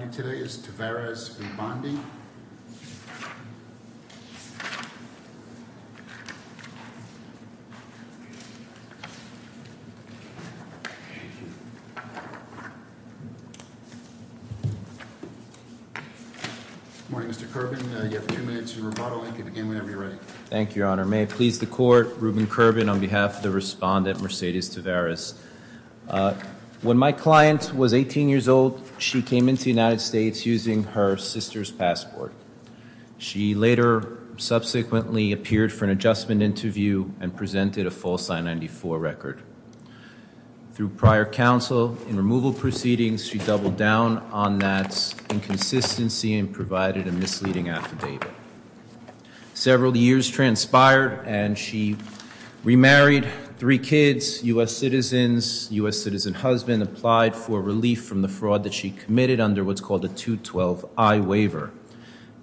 Good morning, Mr. Kerbin. You have two minutes. You're brought on again whenever you're ready. Thank you, Your Honor. May it please the Court, Ruben Kerbin on behalf of the respondent Mercedes Tavarez. When my client was 18 years old, she came into the United States using her sister's passport. She later subsequently appeared for an adjustment interview and presented a false I-94 record. Through prior counsel in removal proceedings, she doubled down on that inconsistency and provided a misleading affidavit. Several years transpired and she remarried three kids, U.S. citizens, U.S. citizen husband, applied for relief from the fraud that she committed under what's called a 212I waiver.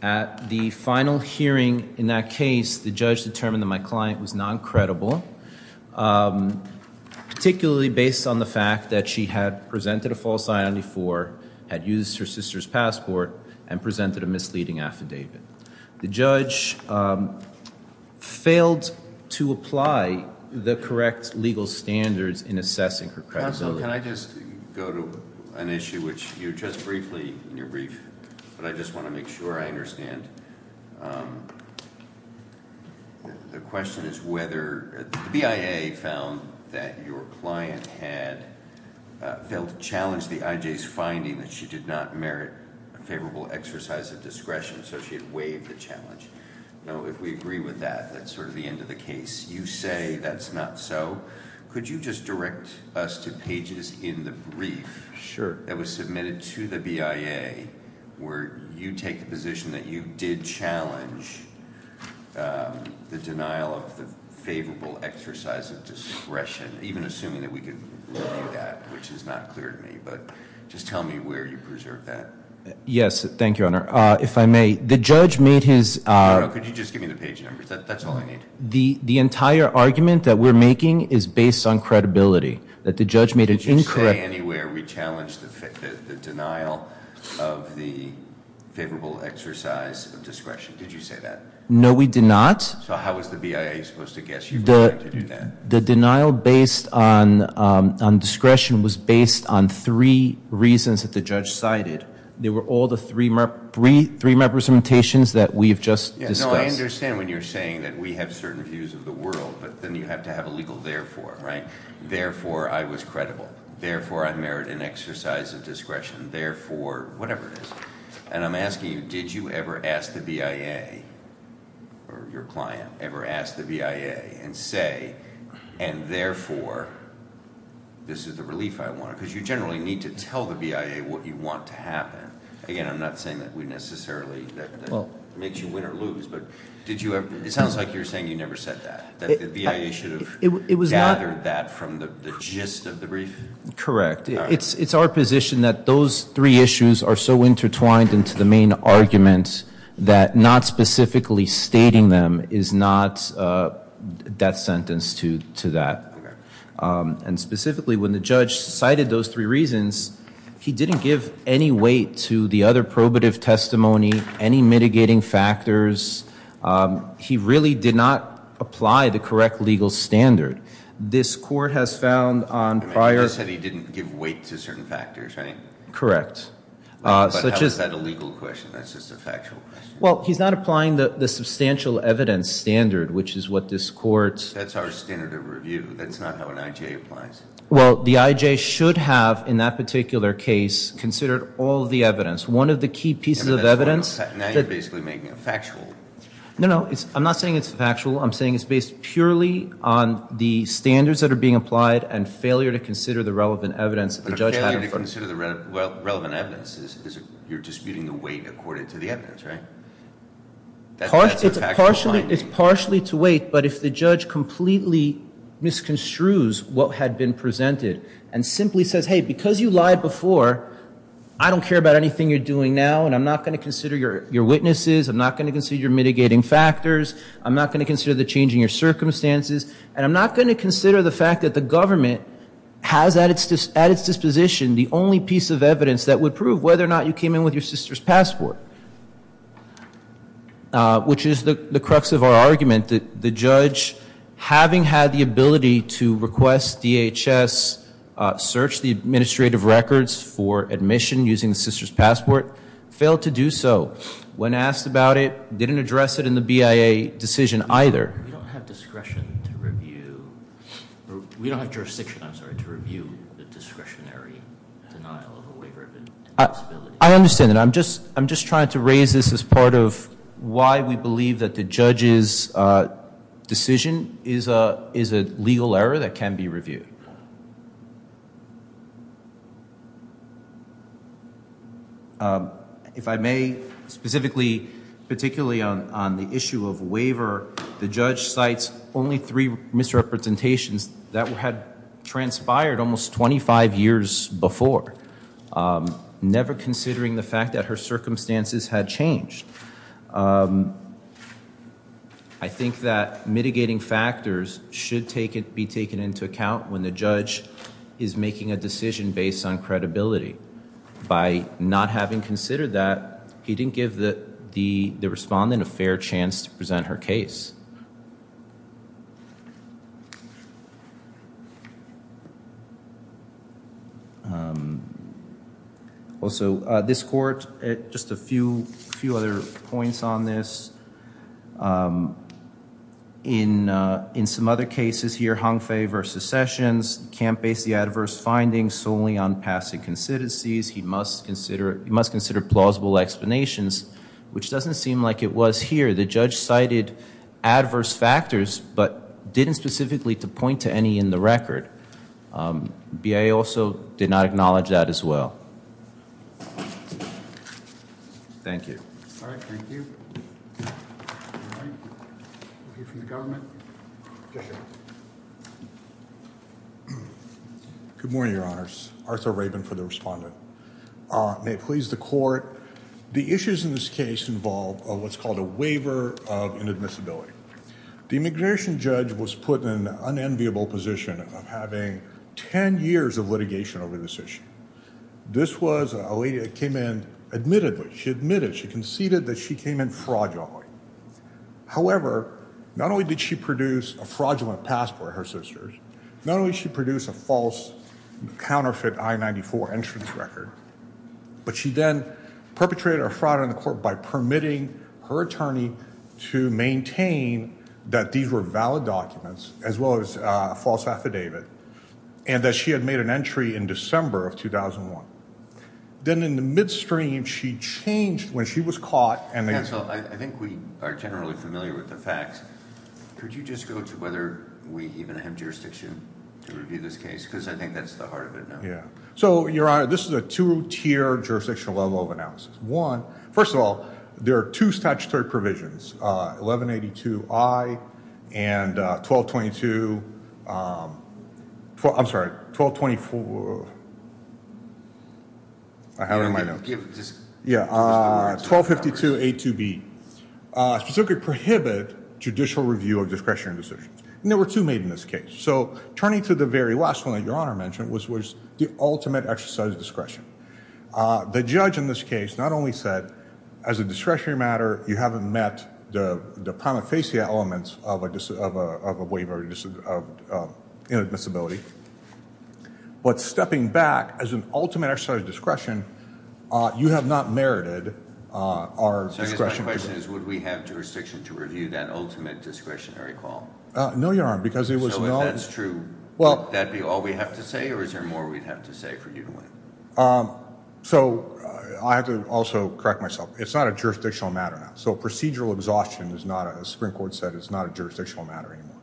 At the final hearing in that case, the judge determined that my client was non-credible, particularly based on the fact that she had presented a false I-94, had used her sister's passport, and presented a misleading affidavit. The judge failed to apply the correct legal standards in assessing her credibility. Counsel, can I just go to an issue which you addressed briefly in your brief, but I just want to make sure I understand. The question is whether the BIA found that your client had failed to challenge the IJ's finding that she did not merit a favorable exercise of discretion, so she had waived the challenge. Now, if we agree with that, that's sort of the end of the question. So, could you just direct us to pages in the brief that was submitted to the BIA where you take the position that you did challenge the denial of the favorable exercise of discretion, even assuming that we could review that, which is not clear to me, but just tell me where you preserved that. Yes, thank you, Honor. If I may, the judge made his- No, no, could you just give me the page numbers? That's all I need. The entire argument that we're making is based on credibility, that the judge made an incorrect- Did you say anywhere we challenged the denial of the favorable exercise of discretion? Did you say that? No, we did not. So how was the BIA supposed to guess you were going to do that? The denial based on discretion was based on three reasons that the judge cited. They were all the three representations that we've just discussed. I understand when you're saying that we have certain views of the world, but then you have to have a legal therefore, right? Therefore, I was credible. Therefore, I merit an exercise of discretion. Therefore, whatever it is. And I'm asking you, did you ever ask the BIA, or your client, ever ask the BIA and say, and therefore, this is the relief I wanted? Because you generally need to tell the BIA what you want to happen. Again, I'm not saying that necessarily makes you win or lose, but it sounds like you're saying you never said that. That the BIA should have gathered that from the gist of the brief? Correct. It's our position that those three issues are so intertwined into the main argument that not specifically stating them is not that sentence to that. And specifically, when the judge cited those three reasons, he didn't give any weight to the other probative testimony, any mitigating factors. He really did not apply the correct legal standard. This court has found on prior... You just said he didn't give weight to certain factors, right? Correct. But how is that a legal question? That's just a factual question. Well, he's not applying the substantial evidence standard, which is what this court... That's our standard of review. That's not how an IJ applies. Well, the IJ should have, in that particular case, considered all the evidence. One of the key pieces of evidence... Now you're basically making it factual. No, no. I'm not saying it's factual. I'm saying it's based purely on the standards that are being applied and failure to consider the relevant evidence that the judge... But a failure to consider the relevant evidence is you're disputing the weight according to the evidence, right? It's partially to weight, but if the judge completely misconstrues what had been presented and simply says, hey, because you lied before, I don't care about anything you're doing now, and I'm not going to consider your witnesses, I'm not going to consider your mitigating factors, I'm not going to consider the change in your circumstances, and I'm not going to consider the fact that the government has at its disposition the only piece of evidence that would which is the crux of our argument, that the judge, having had the ability to request DHS search the administrative records for admission using the sister's passport, failed to do so. When asked about it, didn't address it in the BIA decision either. We don't have discretion to review... We don't have jurisdiction, I'm sorry, to review the discretionary denial of a waiver of indexability. I understand that. I'm just trying to raise this as part of why we believe that the judge's decision is a legal error that can be reviewed. If I may, specifically, particularly on the issue of waiver, the judge cites only three misrepresentations that had transpired almost 25 years before. Never considering the fact that her circumstances had changed. I think that mitigating factors should be taken into account when the judge is making a decision based on credibility. By not having considered that, he didn't give the respondent a fair chance to present her case. Also, this court, just a few other points on this. In some other cases here, Hongfei versus Sessions, can't base the adverse findings solely on past inconsistencies. He must consider plausible explanations, which doesn't seem like it was here. The judge cited adverse factors, but didn't specifically point to any in the record. BIA also did not acknowledge that as well. Thank you. Good morning, Your Honors. Arthur Rabin for the respondent. May it please the court, the issues in this case involve what's called a waiver of inadmissibility. The immigration judge was put in an unenviable position of having 10 years of litigation over this issue. This was a lady that came in, admittedly, she admitted, she conceded that she came in fraudulently. However, not only did she produce a fraudulent passport for her sisters, not only did she produce a false counterfeit I-94 entrance record, but she then perpetrated a fraud on the court by permitting her attorney to maintain that these were valid documents, as well as a false affidavit, and that she had made an entry in December of 2001. Then in the midstream, she changed when she was caught. Counsel, I think we are generally familiar with the facts. Could you just go to whether we even have jurisdiction to review this case? Because I think that's the heart of it now. Yeah. So, Your Honor, this is a two-tier jurisdictional level of analysis. One, first of all, there are two statutory provisions, 1182I and 1222, I'm sorry, 1224, I have it in my notes. Yeah, 1252A2B, specifically prohibit judicial review of discretionary decisions. And there were two made in this case. So, turning to the very last one that Your Honor mentioned, which was the ultimate exercise of discretion. The judge in this case not only said, as a discretionary matter, you haven't met the prima facie elements of a waiver of inadmissibility, but stepping back as an ultimate exercise of discretion, you have not merited our discretion. So, I guess my question is, would we have jurisdiction to review that ultimate discretionary call? No, Your Honor, because there was no... So, if that's true, would that be all we have to say, or is there more we'd have to say for you to win? So, I have to also correct myself. It's not a jurisdictional matter now. So, procedural exhaustion is not, as the Supreme Court said, it's not a jurisdictional matter anymore.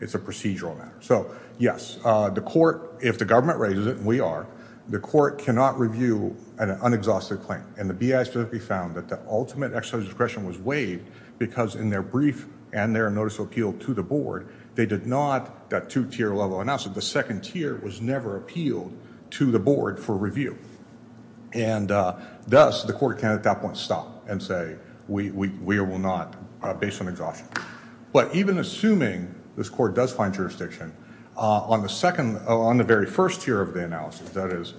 It's a procedural matter. So, yes, the court, if the government raises it, and we are, the court cannot review an unexhausted claim. And the BIA specifically found that the ultimate exercise of discretion was waived, because in their brief and their notice of appeal to the board, they did not, that two-tier level analysis, the second tier was never appealed to the board for review. And thus, the court can at that point stop and say, we will not, based on exhaustion. But even assuming this court does find jurisdiction, on the second, on the very first tier of the analysis, that is,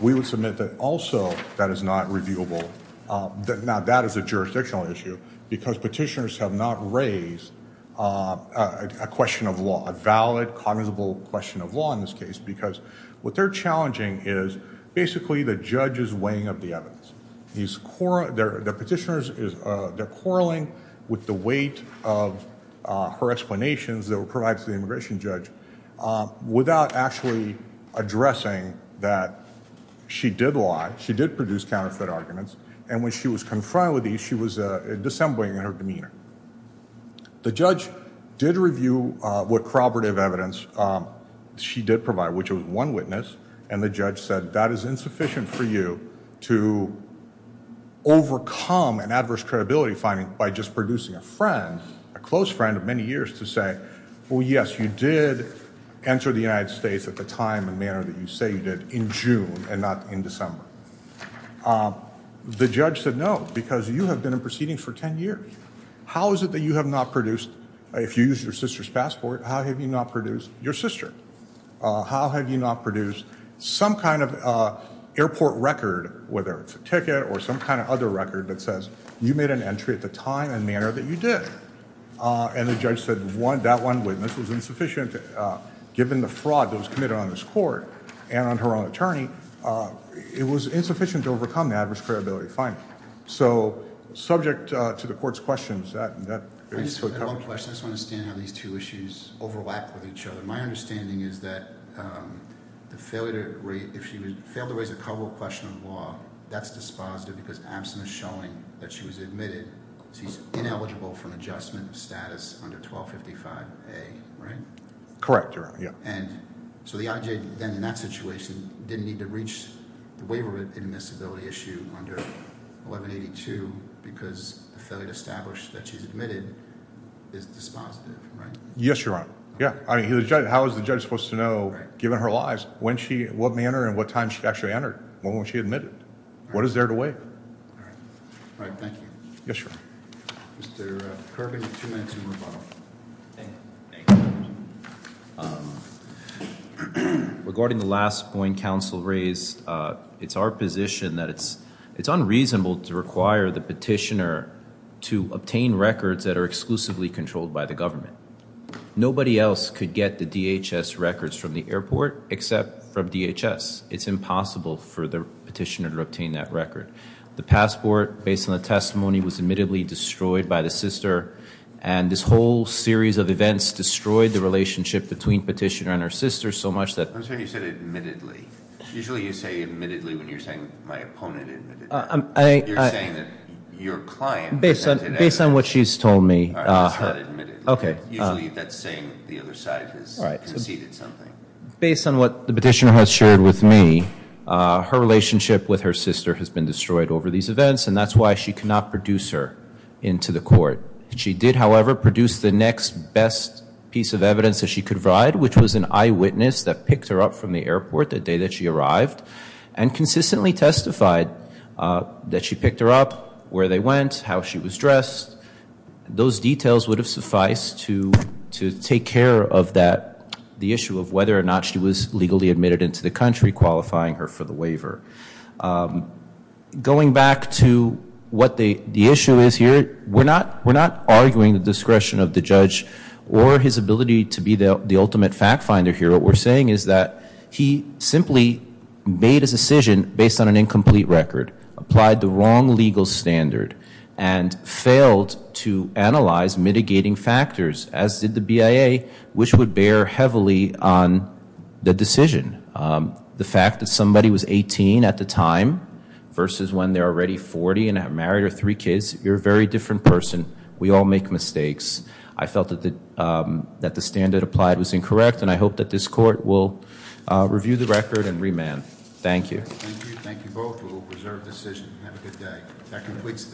we would submit that also that is not reviewable. Now, that is a jurisdictional issue, because petitioners have not raised a question of law, a valid, cognizable question of law in this case, because what they're challenging is basically the judge's weighing of the evidence. The petitioners, they're quarreling with the weight of her explanations that were provided to the immigration judge without actually addressing that she did lie, she did produce counterfeit arguments, and when she was confronted with these, she was dissembling in her demeanor. The judge did review what corroborative evidence she did provide, which was one witness, and the judge said that is insufficient for you to overcome an adverse credibility finding by just producing a friend, a close friend of many years, to say, well, yes, you did enter the United States at the time and manner that you say you did, in June and not in December. The judge said no, because you have been in proceedings for 10 years. How is it that you have not produced, if you used your sister's passport, how have you not produced your sister? How have you not produced some kind of airport record, whether it's a ticket or some kind of other record that says, you made an entry at the time and manner that you did? And the judge said that one witness was insufficient. Given the fraud that was committed on this court and on her own attorney, it was insufficient to overcome the adverse credibility finding. So subject to the court's questions, that is what covered it. I just have one question. I just want to understand how these two issues overlap with each other. My understanding is that if she failed to raise a cover question on the law, that's dispositive because absent of showing that she was admitted, she's ineligible for an adjustment of status under 1255A, right? Correct, Your Honor. And so the IJ then in that situation didn't need to reach the waiver admissibility issue under 1182 because the failure to establish that she's admitted is dispositive, right? Yes, Your Honor. Yeah. I mean, how is the judge supposed to know, given her lies, what manner and what time she actually entered? When was she admitted? What is there to waive? All right. Thank you. Yes, Your Honor. Mr. Kirby, you have two minutes. Thank you. Regarding the last point counsel raised, it's our position that it's unreasonable to require the petitioner to obtain records that are exclusively controlled by the government. Nobody else could get the DHS records from the airport except from DHS. It's impossible for the petitioner to obtain that record. The passport, based on the testimony, was admittedly destroyed by the sister. And this whole series of events destroyed the relationship between petitioner and her sister so much that- I'm sorry, you said admittedly. Usually you say admittedly when you're saying my opponent admittedly. I- You're saying that your client- Based on what she's told me- Not admittedly. Okay. Usually that's saying the other side has conceded something. Based on what the petitioner has shared with me, her relationship with her sister has been destroyed over these events, and that's why she cannot produce her into the court. She did, however, produce the next best piece of evidence that she could provide, which was an eyewitness that picked her up from the airport the day that she arrived, and consistently testified that she picked her up, where they went, how she was dressed. Those details would have sufficed to take care of that, the issue of whether or not she was legally admitted into the country qualifying her for the waiver. Going back to what the issue is here, we're not arguing the discretion of the judge or his ability to be the ultimate fact finder here. What we're saying is that he simply made a decision based on an incomplete record, applied the wrong legal standard, and failed to analyze mitigating factors, as did the BIA, which would bear heavily on the decision. The fact that somebody was 18 at the time versus when they're already 40 and have married or three kids, you're a very different person. We all make mistakes. I felt that the standard applied was incorrect, and I hope that this court will review the record and remand. Thank you. Thank you. Thank you both. We'll reserve decision. Have a good day.